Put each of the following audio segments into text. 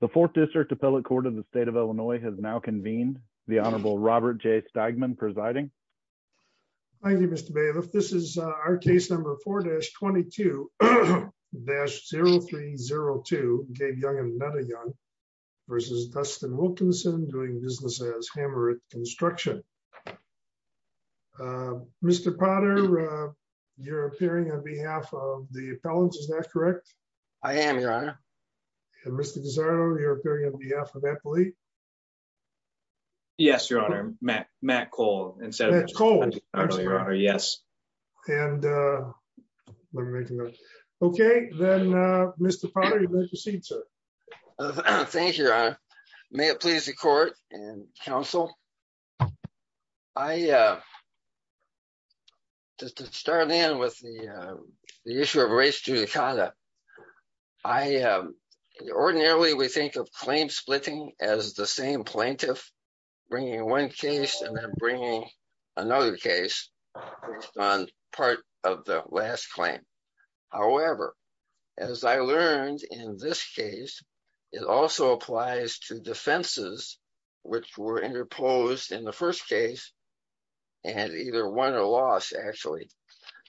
The Fourth District Appellate Court of the State of Illinois has now convened. The Honorable Robert J. Stegman presiding. Thank you, Mr. Bailiff. This is our case number 4-22-0302, Gabe Young and Netta Young versus Dustin Wilkinson doing business as Hammer at Construction. Mr. Potter, you're appearing on behalf of the appellants, is that correct? I am, Your Honor. Mr. Guzzardo, you're appearing on behalf of the appellate. Yes, Your Honor. Matt Cole. Okay, then Mr. Potter, you may proceed, sir. Thank you, Your Honor. May it please the court and counsel. I started in with the issue of race judicata. Ordinarily, we think of claim splitting as the same plaintiff bringing one case and then bringing another case on part of the last claim. However, as I learned in this case, it also applies to the first case and either won or lost, actually.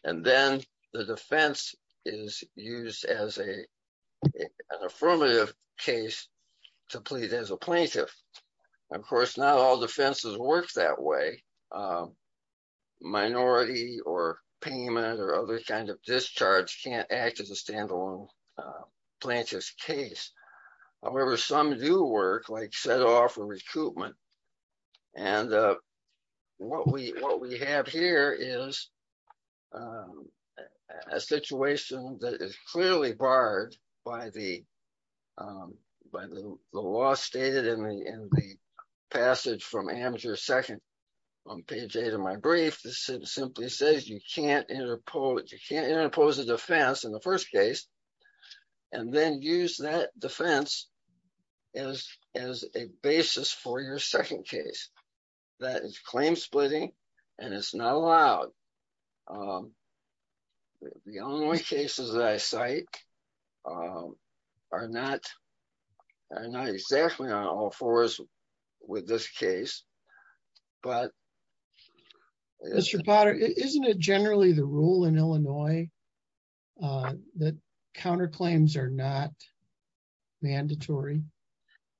And then the defense is used as an affirmative case to plead as a plaintiff. Of course, not all defenses work that way. Minority or payment or other kind of discharge can't act as a standalone plaintiff's case. However, some do work, like what we have here is a situation that is clearly barred by the law stated in the passage from Amateur Second on page eight of my brief that simply says you can't interpose a defense in first case and then use that defense as a basis for your second case. That is claim splitting, and it's not allowed. The only cases that I cite are not exactly on all fours with this case. But... Mr. Potter, isn't it generally the rule in Illinois that counterclaims are not mandatory,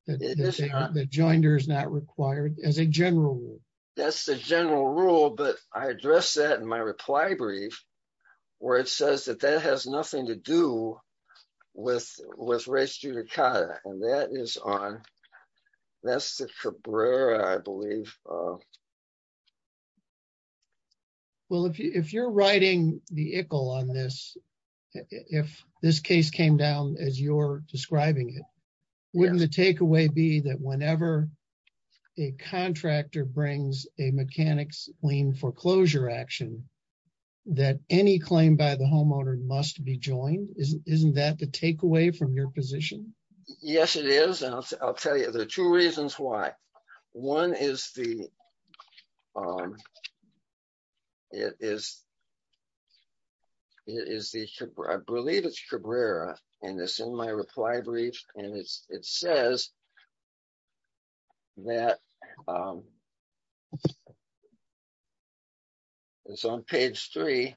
that the joinder is not required as a general rule? That's the general rule, but I addressed that in my reply brief where it says that that has nothing to do with race judicata. And that is on... that's the Cabrera, I believe. Well, if you're writing the ICL on this, if this case came down as you're describing it, wouldn't the takeaway be that whenever a contractor brings a mechanics lien foreclosure action, that any claim by the homeowner must be joined? Isn't that the takeaway from your position? Yes, it is. And I'll tell you, there are two reasons why. One is the... it is... it is the... I believe it's Cabrera, and it's in my reply brief, and it's... it says that... it's on page three.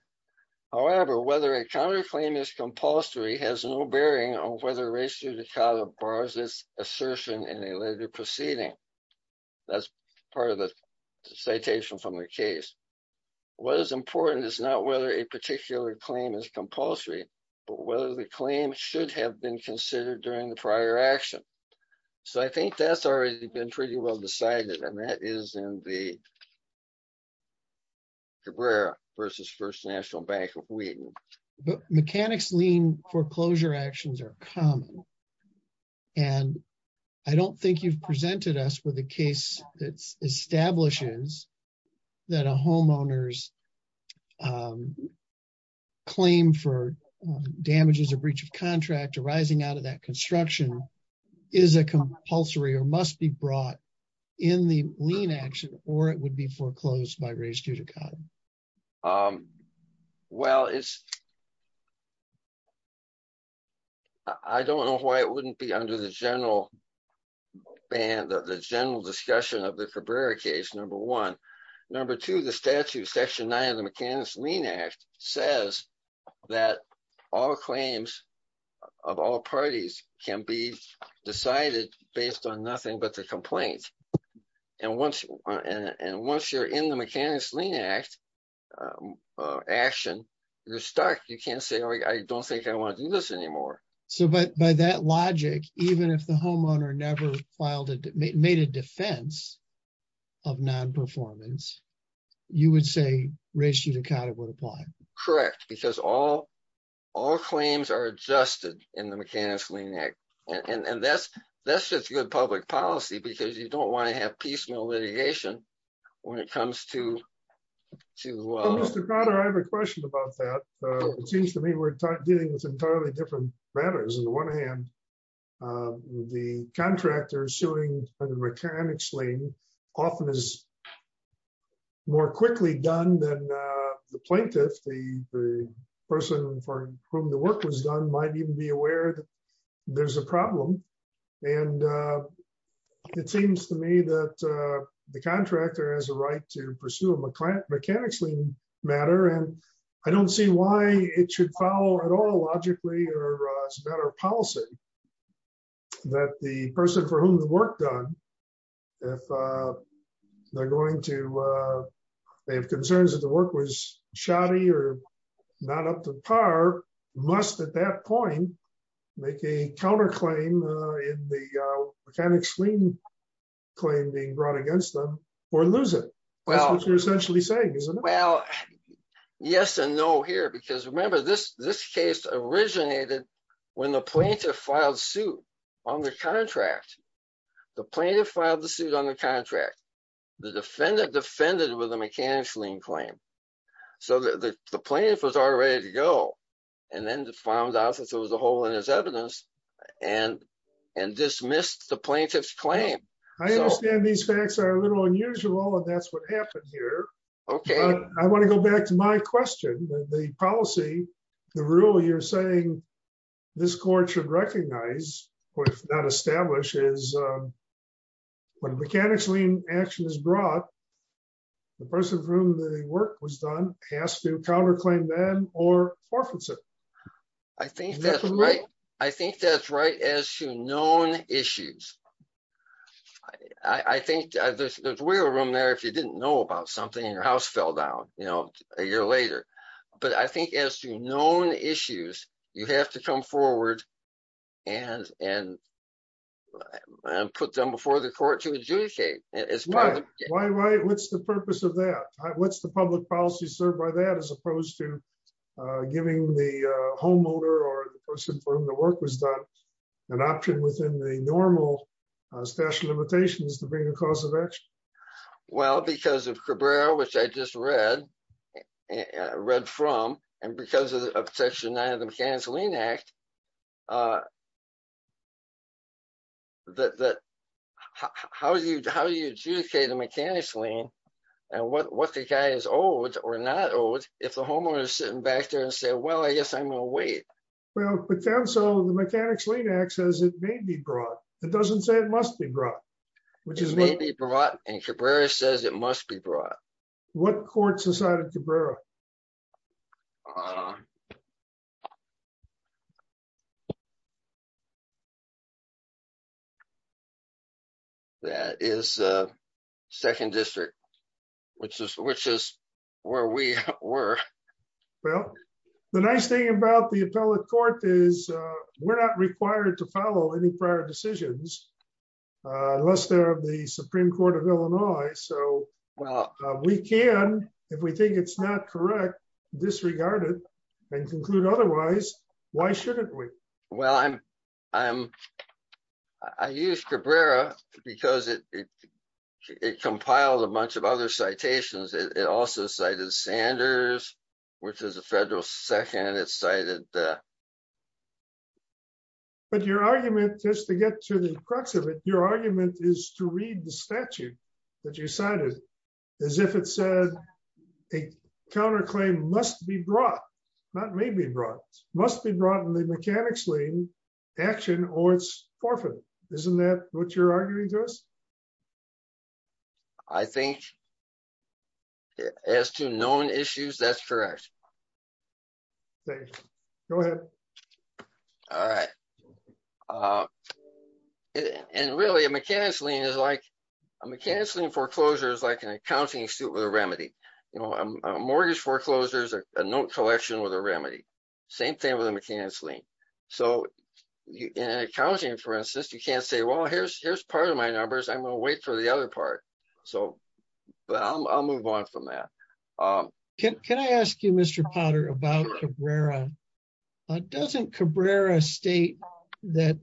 However, whether a counterclaim is compulsory has no bearing on whether race judicata bars this assertion in a later proceeding. That's part of the citation from the case. What is important is not whether a particular claim is compulsory, but whether the claim should have been considered during the prior action. So, I think that's already been pretty well decided, and that is in the Cabrera versus First National Bank of Wheaton. Mechanics lien foreclosure actions are common, and I don't think you've presented us with a case that establishes that a homeowner's claim for damages or breach of contract arising out of that construction is a compulsory or must be brought in the lien action, or it would be foreclosed by race judicata. Well, it's... I don't know why it wouldn't be under the general ban, the general discussion of the Cabrera case, number one. Number two, the statute, section nine of the Mechanics Lien Act, says that all claims of all parties can be decided based on nothing but the complaint. And once... and once you're in the Mechanics Lien Act action, you're stuck. You can't say, I don't think I want to do this anymore. So, by that logic, even if the homeowner never filed it, made a defense of non-performance, you would say race judicata would apply? Correct, because all claims are adjusted in the Mechanics Lien Act, and that's just good public policy, because you don't want to have piecemeal litigation when it comes to... Mr. Carter, I have a question about that. It seems to me we're dealing with entirely different matters. On the one hand, the contractor issuing a Mechanics Lien often is more quickly done than the plaintiff. The person for whom the work was done might even be aware that there's a problem. And it seems to me that the contractor has a right to pursue a Mechanics Lien matter, and I don't see why it should follow at all logically or as a matter of policy that the person for whom the work done, if they're going to... they have concerns that the work was shoddy or not up to par, must at that point make a counterclaim in the Mechanics Lien claim being brought against them or lose it. That's what you're essentially saying, isn't it? Well, yes and no here, because remember this case originated when the plaintiff filed suit on the contract. The plaintiff filed the suit on the contract. The defendant defended with a Mechanics Lien claim. So the plaintiff was already ready to go, and then found out that there was a plaintiff's claim. I understand these facts are a little unusual, and that's what happened here. I want to go back to my question. The policy, the rule you're saying this court should recognize, or if not establish, is when Mechanics Lien action is brought, the person for whom the work was done has to counterclaim them or forfeits it. I think that's right. I think I think there's room there if you didn't know about something and your house fell down, you know, a year later. But I think as to known issues, you have to come forward and put them before the court to adjudicate. Why? What's the purpose of that? What's the public policy served by that as opposed to giving the homeowner or the person for whom the work was done an option within the normal statute of limitations to bring a cause of action? Well, because of Cabrera, which I just read from, and because of Section 9 of the Mechanics Lien Act, that how do you adjudicate a Mechanics Lien? And what the guy is owed or not owed if the homeowner is sitting back there and say, well, I guess I'm going to wait. Well, so the Mechanics Lien Act says it may be brought. It doesn't say it must be brought, which is maybe brought and Cabrera says it must be brought. What courts decided Cabrera? That is Second District, which is where we were. Well, the nice thing about the appellate court is we're not required to follow any prior decisions, unless they're of the Supreme Court of Illinois. So we can, if we think it's not correct, disregard it and conclude otherwise. Why shouldn't we? Well, I used Cabrera because it compiled a bunch of other citations. It also cited Sanders, which is a federal section and it cited that. But your argument, just to get to the crux of it, your argument is to read the statute that you cited as if it said a counterclaim must be brought, not may be brought, must be brought in the Mechanics Lien action or it's forfeited. Isn't that what you're arguing to us? I think as to known issues, that's correct. Thank you. Go ahead. All right. And really a Mechanics Lien is like, a Mechanics Lien foreclosure is like an accounting suit with a remedy. You know, a mortgage foreclosure is a note collection with a remedy. Same thing with a Mechanics Lien. So in accounting, for instance, you can't say, here's part of my numbers. I'm going to wait for the other part. But I'll move on from that. Can I ask you, Mr. Potter, about Cabrera? Doesn't Cabrera state that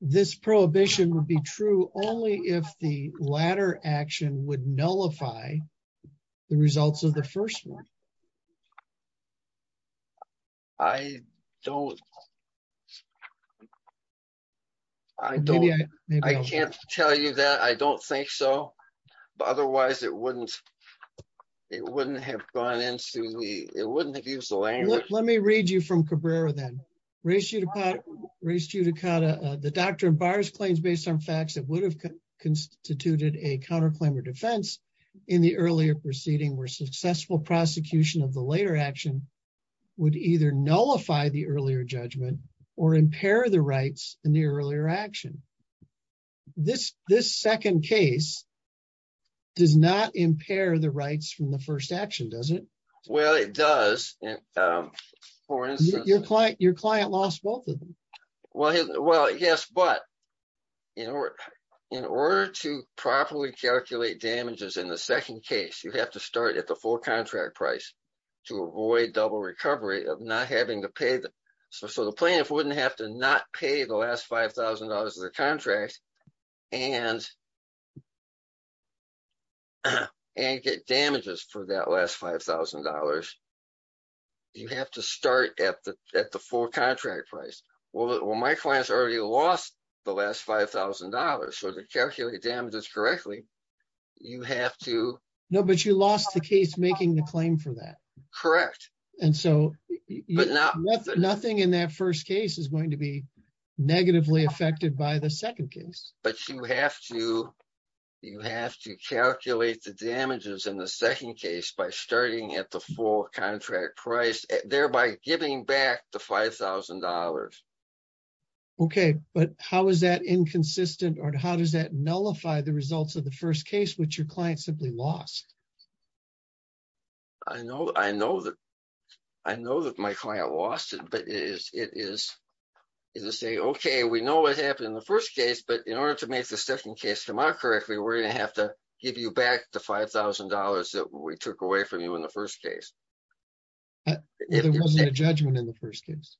this prohibition would be true only if the latter action would nullify the results of the first one? I don't, I don't, I can't tell you that. I don't think so. But otherwise, it wouldn't, it wouldn't have gone into the, it wouldn't have used the language. Let me read you from Cabrera then. Ray Ciudicata, the doctrine bars claims based on facts that would have constituted a counterclaim or defense in the earlier proceeding were successful prosecution of the later action would either nullify the earlier judgment or impair the rights in the earlier action. This second case does not impair the rights from the first action, does it? Well, it does. Your client lost both of them. Well, yes, but in order to properly calculate damages in the second case, you have to start at the full contract price to avoid double recovery of not having to pay the, so the plaintiff wouldn't have to not pay the last $5,000 of the contract and get damages for that last $5,000. You have to start at the full contract price. Well, my client's already lost the last $5,000. So to calculate damages correctly, you have to. No, but you lost the case making the claim for that. Correct. And so nothing in that first case is going to be negatively affected by the second case. But you have to calculate the damages in the second case by starting at the full contract price, thereby giving back the $5,000. Okay, but how is that inconsistent? Or how does that nullify the results of the first case, which your client simply lost? I know that my client lost it, but it is to say, okay, we know what happened in the first case, but in order to make the second case come out correctly, we're going to have to give you back the $5,000 that we took away from you in the first case. There wasn't a judgment in the first case.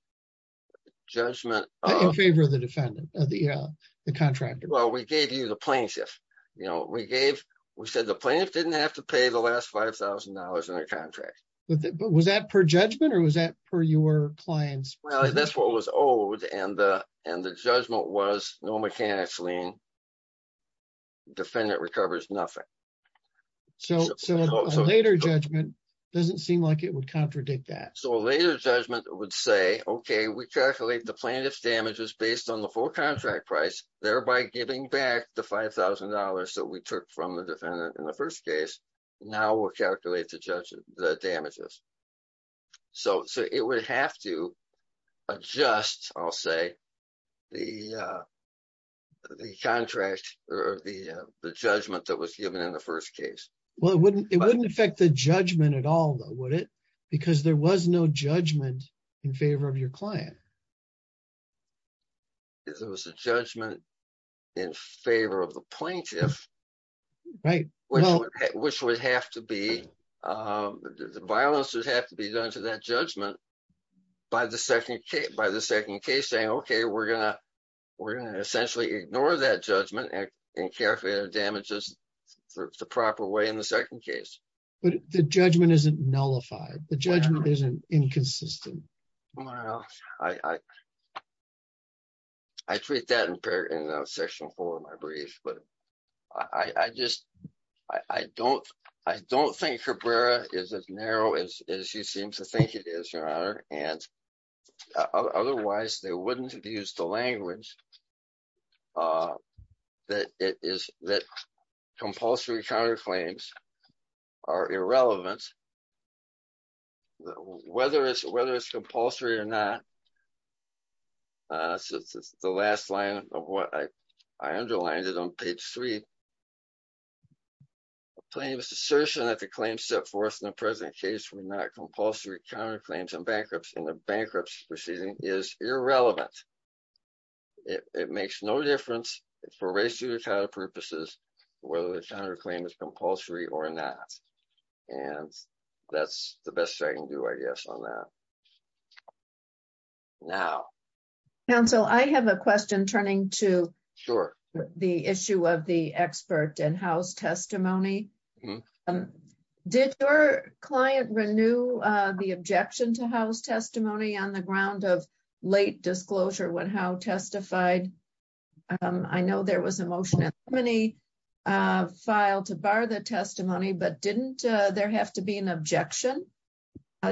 Judgment of? In favor of the defendant, the contractor. Well, we gave you the plaintiff. We said the plaintiff didn't have to pay the last $5,000 in their contract. Was that per judgment, or was that per your client's? Well, that's what was owed, and the judgment was no mechanics lien. Defendant recovers nothing. So a later judgment doesn't seem like it would contradict that. So a later judgment would say, okay, we calculate the plaintiff's damages based on the full contract price, thereby giving back the $5,000 that we took from the defendant in the first case. Now we'll calculate the damages. So it would have to adjust, I'll say, the judgment that was given in the first case. Well, it wouldn't affect the judgment at all, though, would it? Because there was no judgment in favor of your client. There was a judgment in favor of the plaintiff, which would have to be, the violence would have to be done to that judgment by the second case, saying, okay, we're going to essentially ignore that judgment and care for the damages the proper way in the second case. But the judgment isn't nullified. The judgment isn't inconsistent. Well, I treat that in section four of my brief. But I just, I don't think Cabrera is as narrow as you seem to think it is, Your Honor. And otherwise, they wouldn't have used the language that compulsory counterclaims are irrelevant. Whether it's compulsory or not, since it's the last line of what I underlined it on page three, a plaintiff's assertion that the claims set forth in the present case were not compulsory counterclaims and bankruptcy in the bankruptcy proceeding is irrelevant. It makes no difference for race, gender, or title purposes, whether the counterclaim is compulsory or not. And that's the best I can do, I guess, on that. Now. Counsel, I have a question turning to the issue of the expert and house testimony. Did your client renew the objection to house testimony on the ground of late disclosure when Howe testified? I know there was a motion in the testimony file to bar the testimony, but didn't there have to be an objection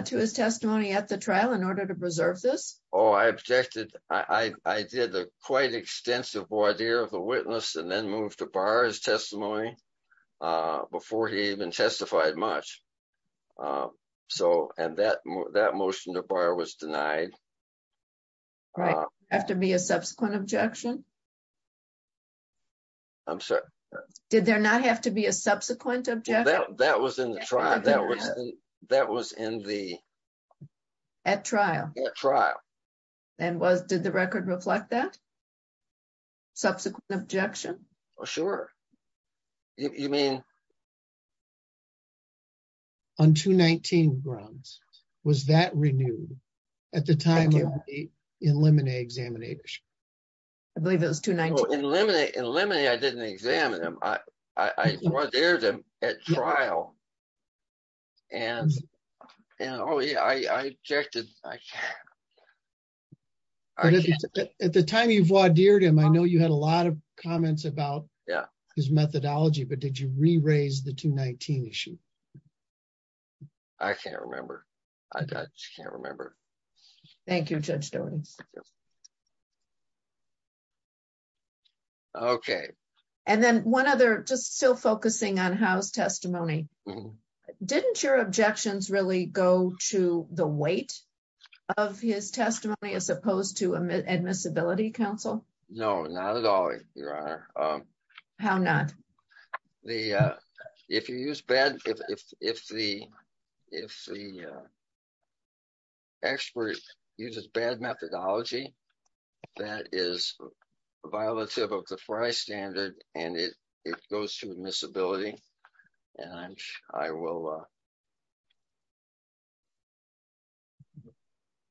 to his testimony at the trial in order to preserve this? Oh, I objected. I did a quite extensive voir dire of the witness and then moved to bar his testimony before he even testified much. And that motion to bar was denied. All right. Have to be a subsequent objection. I'm sorry. Did there not have to be a subsequent objection? That was in the trial. That was that was in the. At trial. At trial. And was did the record reflect that? Subsequent objection. Oh, sure. You mean. Yeah. On 219 grounds, was that renewed at the time of the eliminate examinators? I believe it was to eliminate eliminate. I didn't examine him. I, I, I was there at trial. And, you know, yeah, I, I checked it. I. At the time you've watered him, I know you had a lot of comments about his methodology, but did you re-raise the 219 issue? I can't remember. I just can't remember. Thank you. Judge. Okay. And then 1 other just still focusing on house testimony. Didn't your objections really go to the weight of his testimony as opposed to admissibility counsel? No, not at all. Your honor. How not? The, if you use bad, if, if, if the, if the. Experts uses bad methodology. That is violative of the Frye standard and it, it goes to admissibility and I will.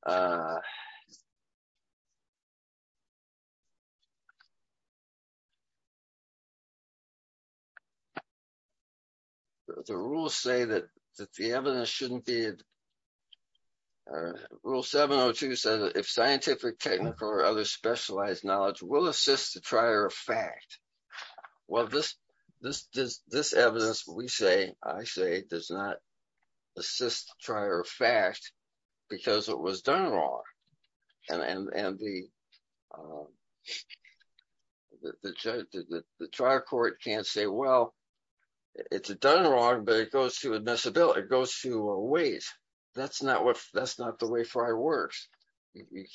The rules say that that the evidence shouldn't be. Rule 702 says if scientific, technical or other specialized knowledge will assist the trier of fact. Well, this, this, this, this evidence, we say, I say, does not. Assist trier of fact, because it was done wrong. And, and, and the, um, the judge, the trial court can't say, well, it's done wrong, but it goes to admissibility. It goes to a weight. That's not what, that's not the way Frye works.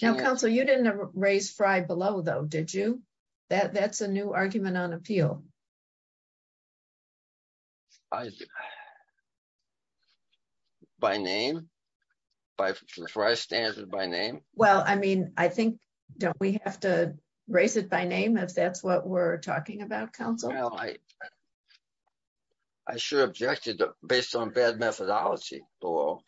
Now, counsel, you didn't raise Frye below though, did you? That's a new argument on appeal. I, by name, by Frye standard by name. Well, I mean, I think, don't we have to raise it by name if that's what we're talking about counsel? Well, I, I should have objected based on bad methodology below.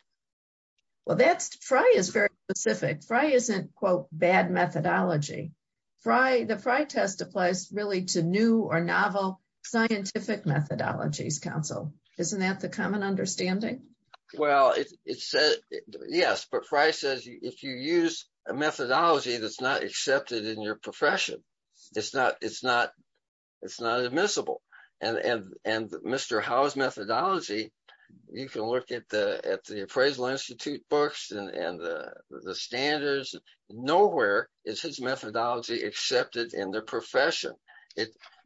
Well, that's Frye is very specific. Frye isn't quote bad methodology. Frye, the Frye test applies really to new or novel scientific methodologies. Counsel, isn't that the common understanding? Well, it said, yes, but Frye says, if you use a methodology, that's not accepted in your profession, it's not, it's not, it's not admissible. And, and, and Mr. Howe's methodology, you can look at the, at the appraisal Institute books and the standards, nowhere is his methodology accepted in the profession.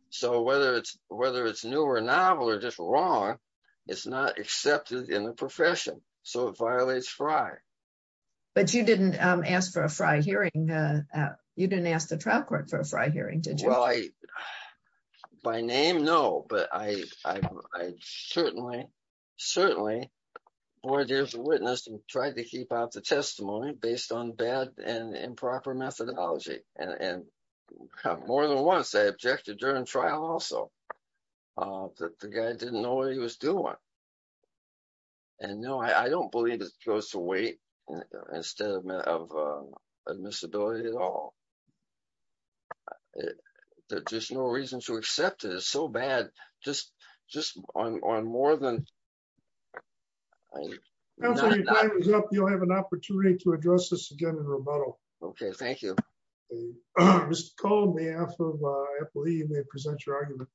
So whether it's, whether it's new or novel or just wrong, it's not accepted in the profession. So it violates Frye. But you didn't ask for a Frye hearing. You didn't ask the trial court for a Frye hearing, did you? I, by name? No, but I, I, I certainly, certainly. Boy, there's a witness and tried to keep out the testimony based on bad and improper methodology. And, and more than once I objected during trial also that the guy didn't know what he was doing. And no, I don't believe it goes to weight instead of admissibility at all. There's no reason to accept it as so bad. Just, just on, on more than. You'll have an opportunity to address this again in rebuttal. Okay. Thank you. Mr. Cole, may I have, I believe may present your argument.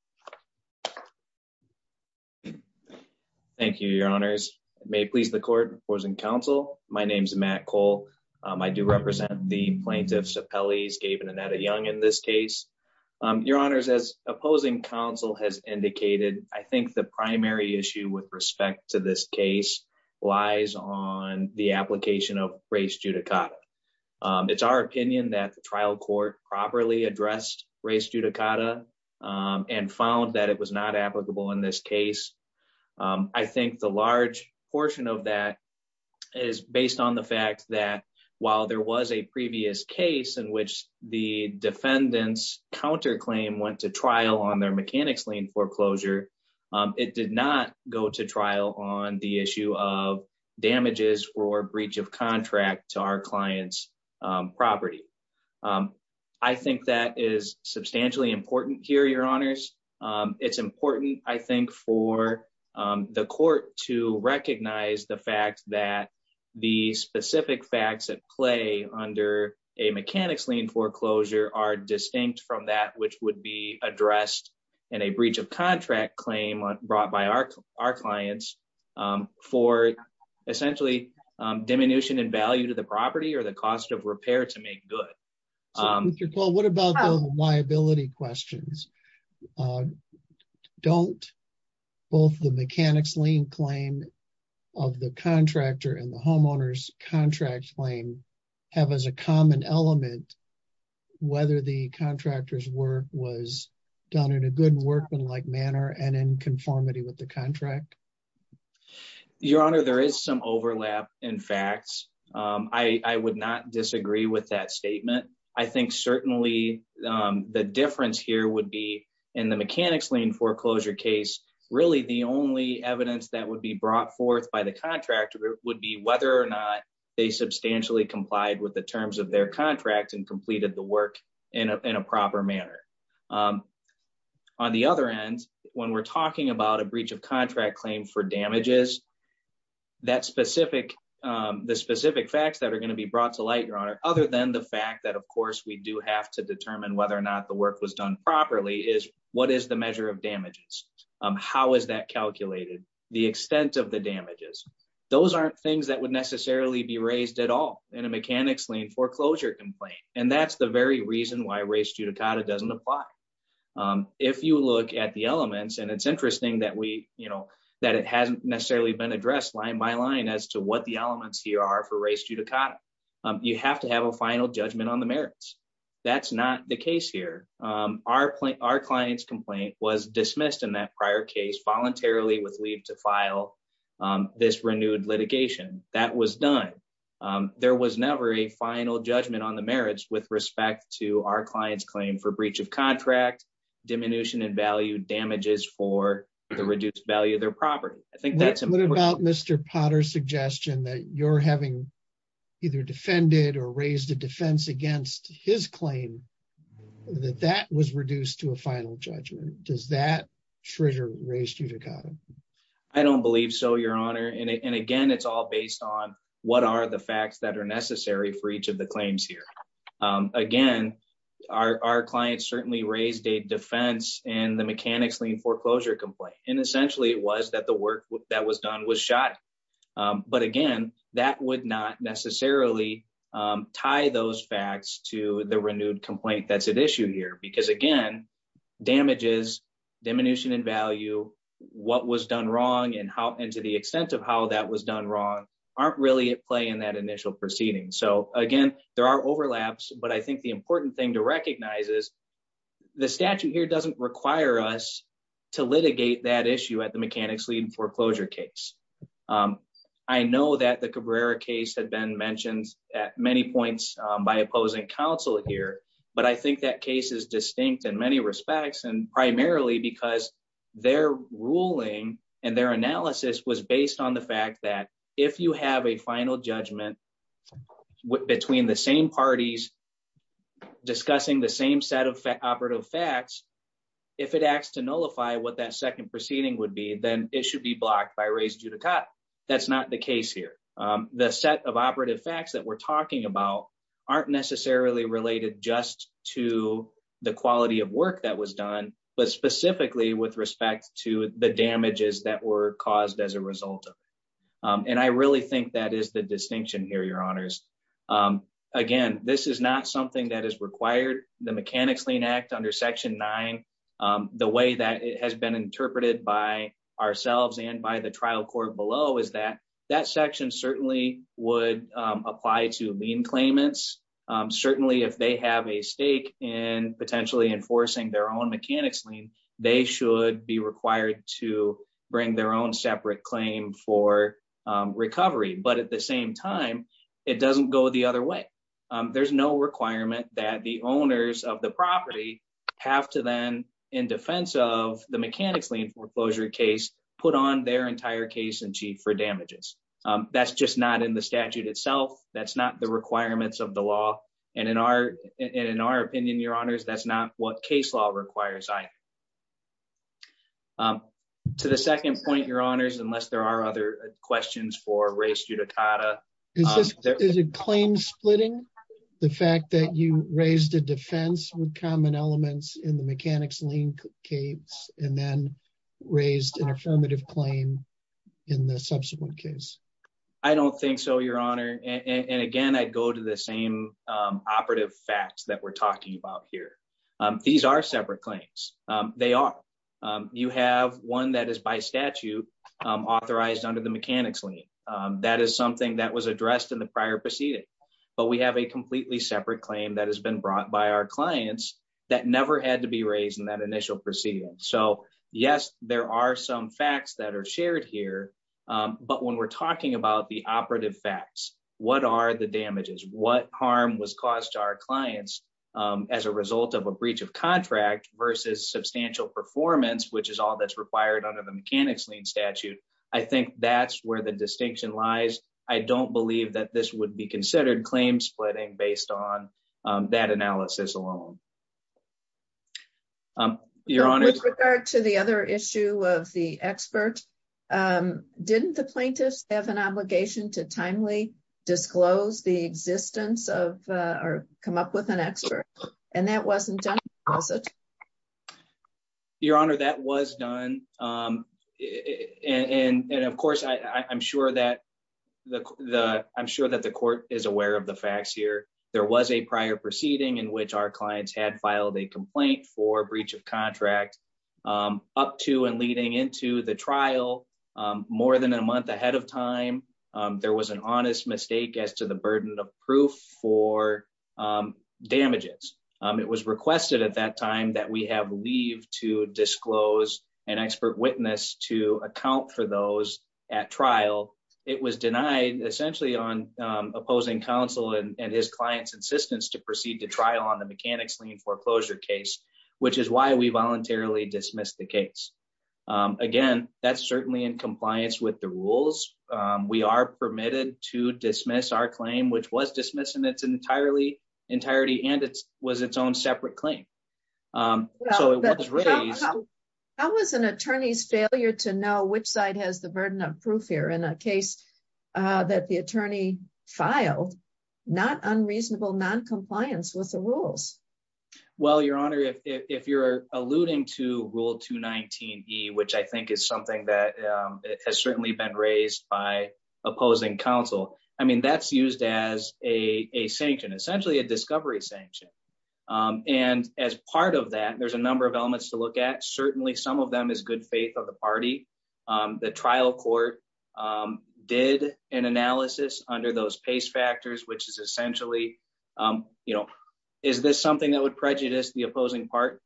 Thank you, your honors. May it please the court, opposing counsel. My name's Matt Cole. I do represent the plaintiffs appellees, Gabe and Annetta Young in this case. Your honors as opposing counsel has indicated. I think the primary issue with respect to this case lies on the application of race judicata. It's our opinion that the trial court properly addressed race judicata and found that it was not applicable in this case. I think the large portion of that is based on the fact that while there was a previous case in which the defendants counterclaim went to trial on their mechanics lien foreclosure, it did not go to trial on the issue of damages or breach of contract to our client's property. I think that is substantially important here, your honors. It's important, I think, for the court to recognize the fact that the specific facts at play under a mechanics lien foreclosure are distinct from that which would be addressed in a breach of contract claim brought by our clients for essentially diminution in value to the property or the cost of repair to make good. Well, what about the liability questions? Don't both the mechanics lien claim of the contractor and the homeowner's contract claim have as a common element whether the contractor's work was done in a good workman-like manner and in conformity with the contract? Your honor, there is some overlap in facts. I would not disagree with that statement. I think certainly the difference here would be in the mechanics lien foreclosure case, really the only evidence that would be brought forth by the contractor would be whether or not they substantially complied with the terms of their contract and completed the work in a proper manner. On the other end, when we're talking about a breach of contract claim for damages, the specific facts that are going to be brought to light, your honor, other than the fact that, of course, we do have to determine whether or not the work was done properly, is what is the measure of damages? How is that calculated? The extent of the damages. Those aren't things that would necessarily be raised at all in a mechanics lien foreclosure complaint. And that's the very reason why res judicata doesn't apply. If you look at the elements, and it's interesting that it hasn't necessarily been addressed line by line as to what the elements here are for res judicata. You have to have a final judgment on the merits. That's not the case here. Our client's complaint was dismissed in that prior case voluntarily with leave to file this renewed litigation. That was done. There was never a final judgment on the merits with respect to our client's claim for breach of contract, diminution in value damages for the reduced value of their property. What about Mr. Potter's suggestion that you're having either defended or raised a defense against his claim that that was reduced to a final judgment? Does that trigger res judicata? I don't believe so, your honor. And again, it's all based on what are the facts that are necessary for each of the claims here. Again, our client certainly raised a defense and the mechanics lien foreclosure complaint. And essentially it was that the work that was done was shot. But again, that would not necessarily tie those facts to the renewed complaint that's at issue here. Because again, damages, diminution in value, what was done wrong, and to the extent of how that was done wrong aren't really at play in that initial proceeding. So again, there are overlaps. But I think the important thing to recognize is the statute here doesn't require us to issue at the mechanics lien foreclosure case. I know that the Cabrera case had been mentioned at many points by opposing counsel here. But I think that case is distinct in many respects, and primarily because their ruling and their analysis was based on the fact that if you have a final judgment between the same parties discussing the same set of operative facts, if it acts to nullify what that second proceeding would be, then it should be blocked by res judicata. That's not the case here. The set of operative facts that we're talking about aren't necessarily related just to the quality of work that was done, but specifically with respect to the damages that were caused as a result of it. And I really think that is the distinction here, Your Honors. Again, this is not something that is required. The Mechanics Lien Act under Section 9, the way that it has been interpreted by ourselves and by the trial court below is that that section certainly would apply to lien claimants. Certainly, if they have a stake in potentially enforcing their own mechanics lien, they should be required to bring their own separate claim for recovery. But at the same time, it doesn't go the other way. There's no requirement that the owners of the property have to then, in defense of the mechanics lien foreclosure case, put on their entire case in chief for damages. That's just not in the statute itself. That's not the requirements of the law. And in our opinion, Your Honors, that's not what case law requires either. To the second point, Your Honors, unless there are other questions for Ray Ciutatata. Is it claim splitting, the fact that you raised a defense with common elements in the mechanics lien case and then raised an affirmative claim in the subsequent case? I don't think so, Your Honor. And again, I'd go to the same operative facts that we're talking about here. These are separate claims. They are. You have one that is by statute authorized under the mechanics lien. That is something that was addressed in the prior proceeding. But we have a completely separate claim that has been brought by our clients that never had to be raised in that initial proceeding. So, yes, there are some facts that are shared here. But when we're talking about the operative facts, what are the damages? What harm was caused to our clients as a result of a breach of contract versus substantial performance, which is all that's required under the mechanics lien statute? I think that's where the distinction lies. I don't believe that this would be considered claim splitting based on that analysis alone. Your Honor. With regard to the other issue of the expert, didn't the plaintiffs have an obligation to disclose the existence of or come up with an expert? And that wasn't done. Your Honor, that was done. And of course, I'm sure that the I'm sure that the court is aware of the facts here. There was a prior proceeding in which our clients had filed a complaint for breach of contract up to and leading into the trial more than a month ahead of time. There was an honest mistake as to the burden of proof for damages. It was requested at that time that we have leave to disclose an expert witness to account for those at trial. It was denied essentially on opposing counsel and his client's insistence to proceed to trial on the mechanics lien foreclosure case, which is why we voluntarily dismissed the case. Again, that's certainly in compliance with the rules. We are permitted to dismiss our claim, which was dismissed in its entirely entirety, and it was its own separate claim. So it was raised. How was an attorney's failure to know which side has the burden of proof here in a case that the attorney filed not unreasonable noncompliance with the rules? Well, Your Honor, if you're alluding to Rule 219 E, which I think is something that has by opposing counsel. I mean, that's used as a sanction, essentially a discovery sanction. And as part of that, there's a number of elements to look at. Certainly some of them is good faith of the party. The trial court did an analysis under those pace factors, which is essentially, you know, is this something that would prejudice the opposing party?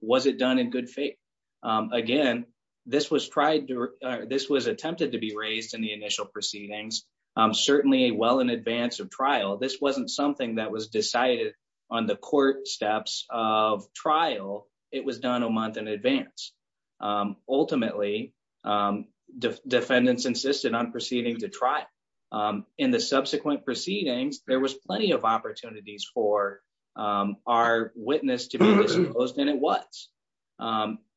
Was it done in good faith? Again, this was tried. This was attempted to be raised in the initial proceedings, certainly well in advance of trial. This wasn't something that was decided on the court steps of trial. It was done a month in advance. Ultimately, defendants insisted on proceeding to trial in the subsequent proceedings. There was plenty of opportunities for our witness to be disclosed, and it was.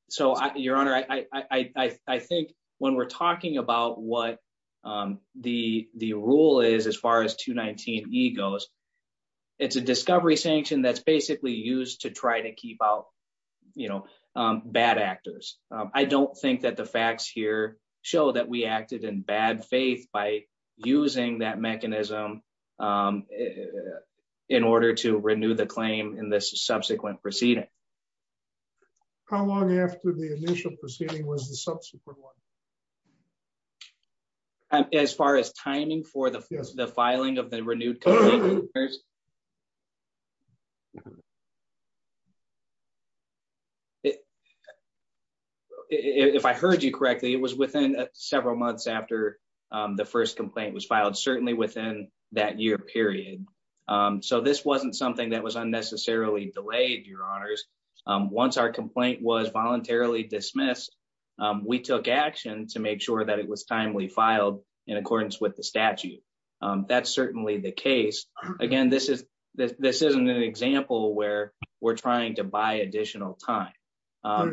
So, Your Honor, I think when we're talking about what the rule is, as far as 219 E goes, it's a discovery sanction that's basically used to try to keep out, you know, bad actors. I don't think that the facts here show that we acted in bad faith by using that mechanism in order to renew the claim in this subsequent proceeding. How long after the initial proceeding was the subsequent one? As far as timing for the filing of the renewed complaint? If I heard you correctly, it was within several months after the first complaint was filed, certainly within that year period. So this wasn't something that was unnecessarily delayed, Your Honors. Once our complaint was voluntarily dismissed, we took action to make sure that it was timely filed in accordance with the statute. That's certainly the case. Again, this isn't an example where we're trying to buy additional time.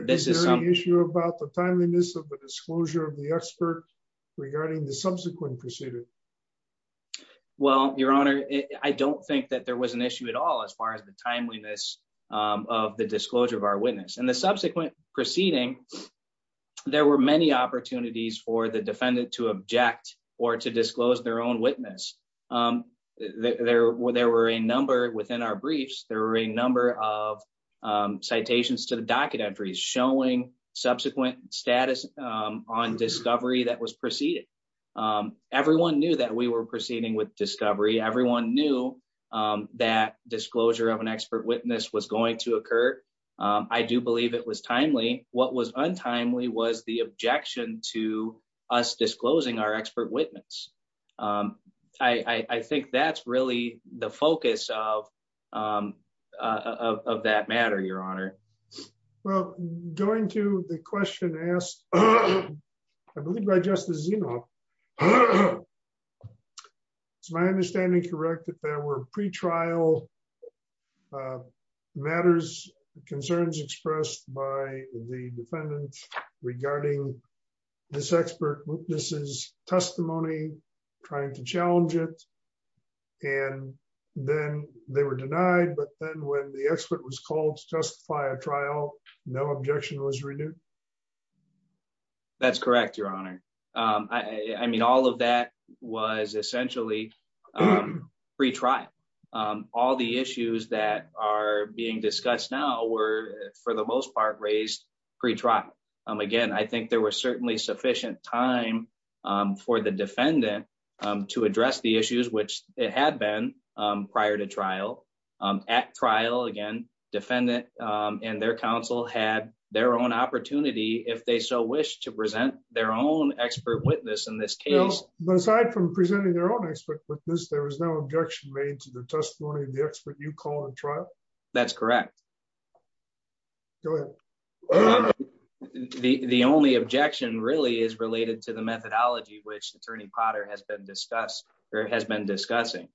Is there an issue about the timeliness of the disclosure of the expert regarding the subsequent proceeding? Well, Your Honor, I don't think that there was an issue at all as far as the timeliness of the disclosure of our witness. In the subsequent proceeding, there were many opportunities for the defendant to object or to disclose their own witness. There were a number, within our briefs, there were a number of citations to the documentary showing subsequent status on discovery that was preceded. Everyone knew that we were proceeding with discovery. Everyone knew that disclosure of an expert witness was going to occur. I do believe it was timely. What was untimely was the objection to us disclosing our expert witness. I think that's really the focus of that matter, Your Honor. Well, going to the question asked, I believe by Justice Zinov, is my understanding correct that there were pre-trial matters, concerns expressed by the defendant regarding this expert witness's testimony, trying to challenge it, and then they were denied. But then when the expert was called to justify a trial, no objection was renewed? That's correct, Your Honor. I mean, all of that was essentially pre-trial. All the issues that are being discussed now were, for the most part, raised pre-trial. Again, I think there was certainly sufficient time for the defendant to address the issues, which it had been prior to trial. At trial, again, defendant and their counsel had their own opportunity, if they so wish, to present their own expert witness in this case. Well, aside from presenting their own expert witness, there was no objection made to the testimony of the expert you called at trial? That's correct. Go ahead. The only objection really is related to the methodology which Attorney Potter has been discussing.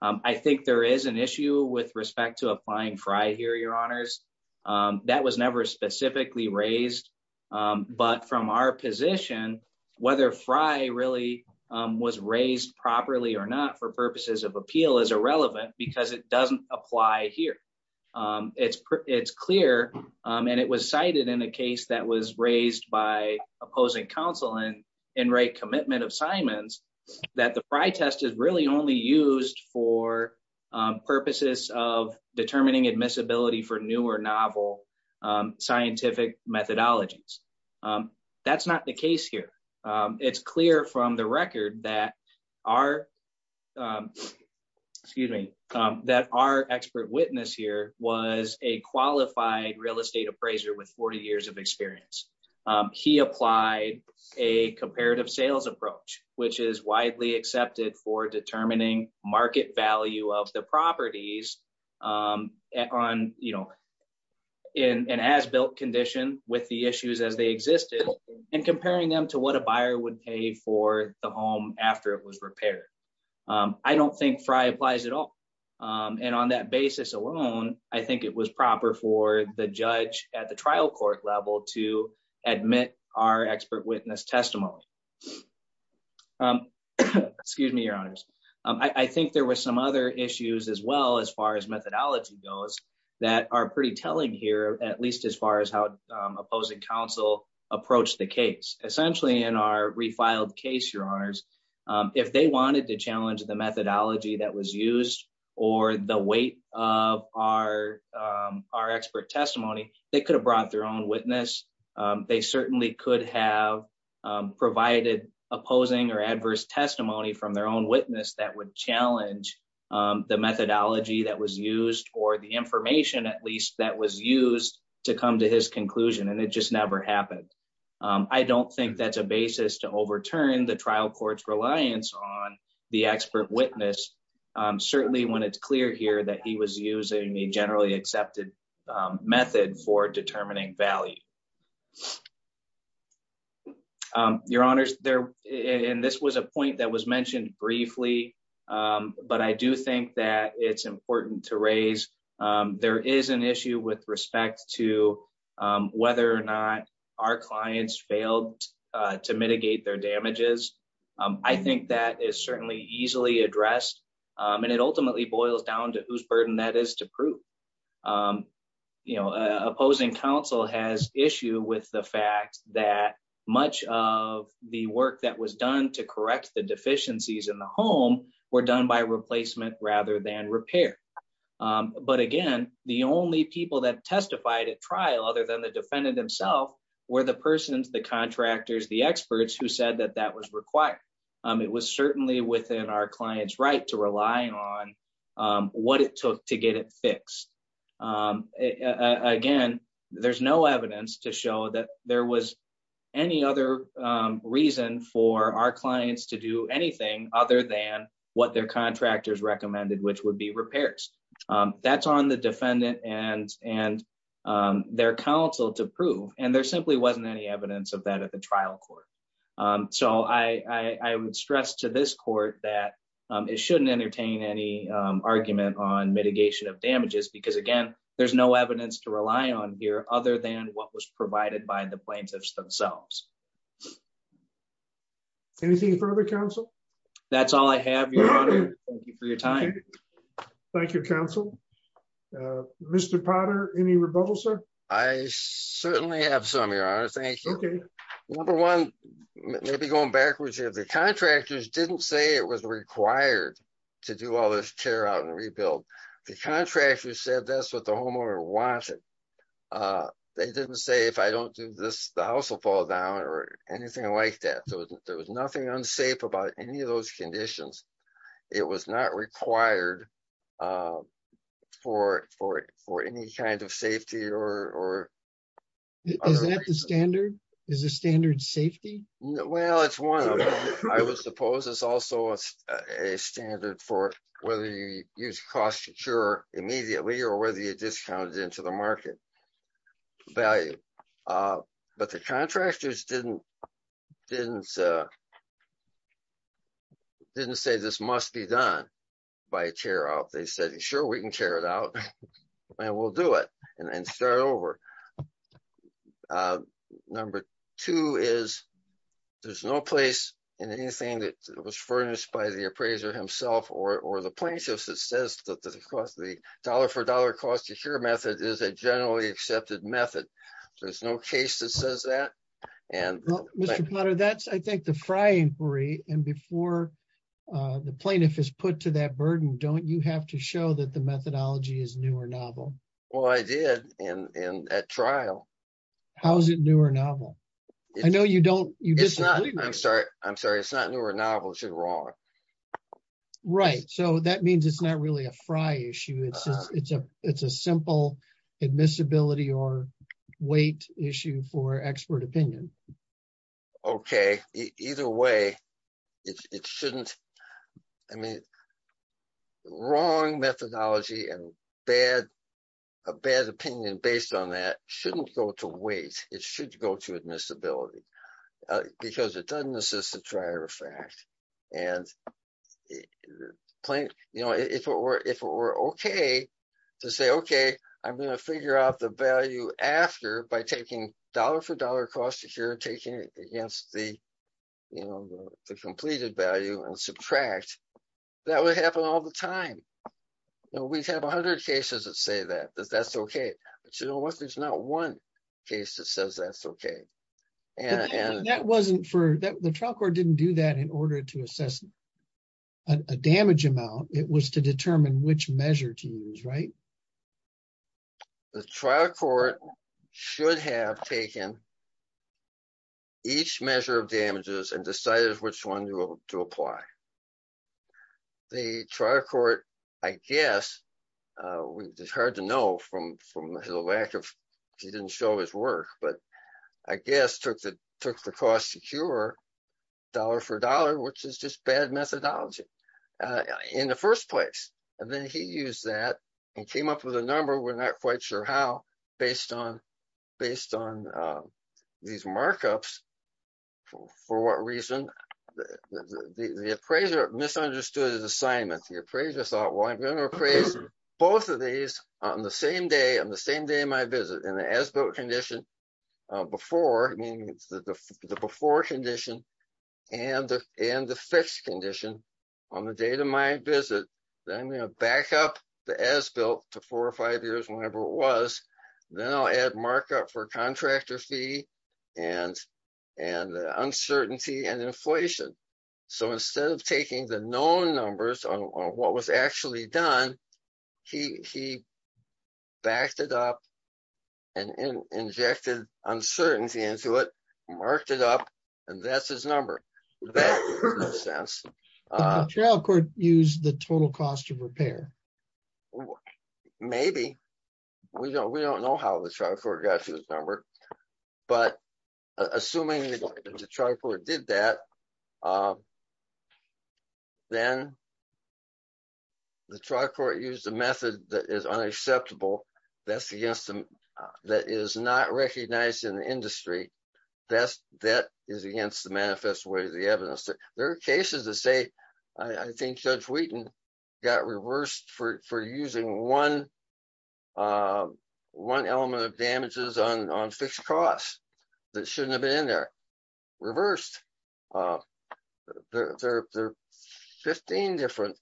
I think there is an issue with respect to applying FRI here, Your Honors. That was never specifically raised. But from our position, whether FRI really was raised properly or not for purposes of appeal is irrelevant because it doesn't apply here. It's clear, and it was cited in a case that was raised by opposing counsel in Wright Commitment of Simons, that the FRI test is really only used for purposes of novel scientific methodologies. That's not the case here. It's clear from the record that our expert witness here was a qualified real estate appraiser with 40 years of experience. He applied a comparative sales approach, which is widely accepted for determining market value of the properties in an as-built condition with the issues as they existed, and comparing them to what a buyer would pay for the home after it was repaired. I don't think FRI applies at all. On that basis alone, I think it was proper for the judge at the trial court level to admit our expert witness testimony. Excuse me, Your Honors. I think there were some other issues as well, as far as methodology goes, that are pretty telling here, at least as far as how opposing counsel approached the case. Essentially, in our refiled case, Your Honors, if they wanted to challenge the methodology that was used or the weight of our expert testimony, they could have brought their own witness. They certainly could have provided opposing or adverse testimony from their own witness that would challenge the methodology that was used or the information, at least, that was used to come to his conclusion, and it just never happened. I don't think that's a basis to overturn the trial court's reliance on the expert witness, certainly when it's clear here that he was using a generally accepted method for determining value. Your Honors, and this was a point that was mentioned briefly, but I do think that it's important to raise. There is an issue with respect to whether or not our clients failed to mitigate their damages. I think that is certainly easily addressed, and it ultimately boils down to whose burden that is to prove. You know, opposing counsel has issue with the fact that much of the work that was done to correct the deficiencies in the home were done by replacement rather than repair. But again, the only people that testified at trial, other than the defendant himself, were the persons, the contractors, the experts who said that that was required. It was certainly within our client's right to rely on what it took to get it fixed. Again, there's no evidence to show that there was any other reason for our clients to do anything other than what their contractors recommended, which would be repairs. That's on the defendant and their counsel to prove, and there simply wasn't any evidence of that at the trial court. So I would stress to this court that it shouldn't entertain any argument on mitigation of damages, because again, there's no evidence to rely on here other than what was provided by the plaintiffs themselves. Anything further, counsel? That's all I have, Your Honor. Thank you for your time. Thank you, counsel. Mr. Potter, any rebuttals, sir? I certainly have some, Your Honor. Thank you. Number one, maybe going backwards here, the contractors didn't say it was required to do all this tear out and rebuild. The contractor said that's what the homeowner wanted. They didn't say, if I don't do this, the house will fall down or anything like that. There was nothing unsafe about any of those conditions. It was not required for any kind of safety or other reasons. Is that the standard? Is the standard safety? Well, it's one of them. I would suppose it's also a standard for whether you use cost to cure immediately or whether you discounted into the market value. But the contractors didn't say this must be done by tear out. They said, sure, we can tear it out and we'll do it and start over. Number two is there's no place in anything that was furnished by the appraiser himself or the plaintiffs that says that the dollar for dollar cost to cure method is a generally accepted method. There's no case that says that. Mr. Potter, that's, I think, the fry inquiry. And before the plaintiff is put to that burden, don't you have to show that the methodology is new or novel? Well, I did in that trial. How is it new or novel? I know you don't. I'm sorry. I'm sorry. It's not new or novel. You're wrong. Right. So that means it's not really a fry issue. It's a simple admissibility or weight issue for expert opinion. OK, either way, it shouldn't. I mean, wrong methodology and a bad opinion based on that shouldn't go to weight. It should go to admissibility because it doesn't assist the dryer effect. And if it were OK to say, OK, I'm going to figure out the value after by taking dollar for dollar cost, if you're taking it against the completed value and subtract, that would happen all the time. We'd have 100 cases that say that, that's OK. But you know what? There's not one case that says that's OK. The trial court didn't do that in order to assess a damage amount. It was to determine which measure to use, right? The trial court should have taken each measure of damages and decided which one to apply. The trial court, I guess, it's hard to know from the lack of, he didn't show his work, but I guess took the cost to cure dollar for dollar, which is just bad methodology in the first place. And then he used that and came up with a number. We're not quite sure how. Based on these markups, for what reason, the appraiser misunderstood his assignment. The appraiser thought, well, I'm going to appraise both of these on the same day, on the same day of my visit, in the as-built condition before, meaning it's the before condition and the fixed condition on the date of my visit. Then I'm going to back up the as-built to four or five years, whenever it was. Then I'll add markup for contractor fee and uncertainty and inflation. So instead of taking the known numbers on what was actually done, he backed it up and injected uncertainty into it, marked it up, and that's his number. That makes sense. But the trial court used the total cost of repair. Maybe. We don't know how the trial court got to his number. But assuming the trial court did that, then the trial court used a method that is unacceptable. That's against them. That is not recognized in the industry. That is against the manifest way of the evidence. There are cases that say, I think Judge Wheaton got reversed for using one element of damages on fixed costs that shouldn't have been in there. Reversed. There are 15 different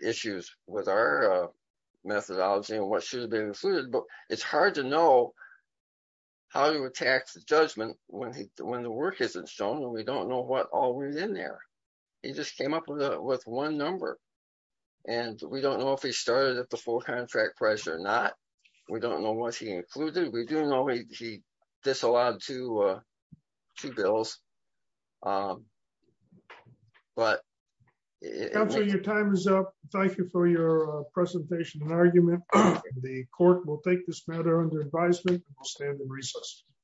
issues with our methodology and what should have been included, but it's hard to know how to attack the judgment when the work isn't shown and we don't know what all was in there. He just came up with one number. We don't know if he started at the full contract price or not. We don't know what he included. We do know he disallowed two bills. But. Counselor, your time is up. Thank you for your presentation and argument. The court will take this matter under advisement and will stand in recess.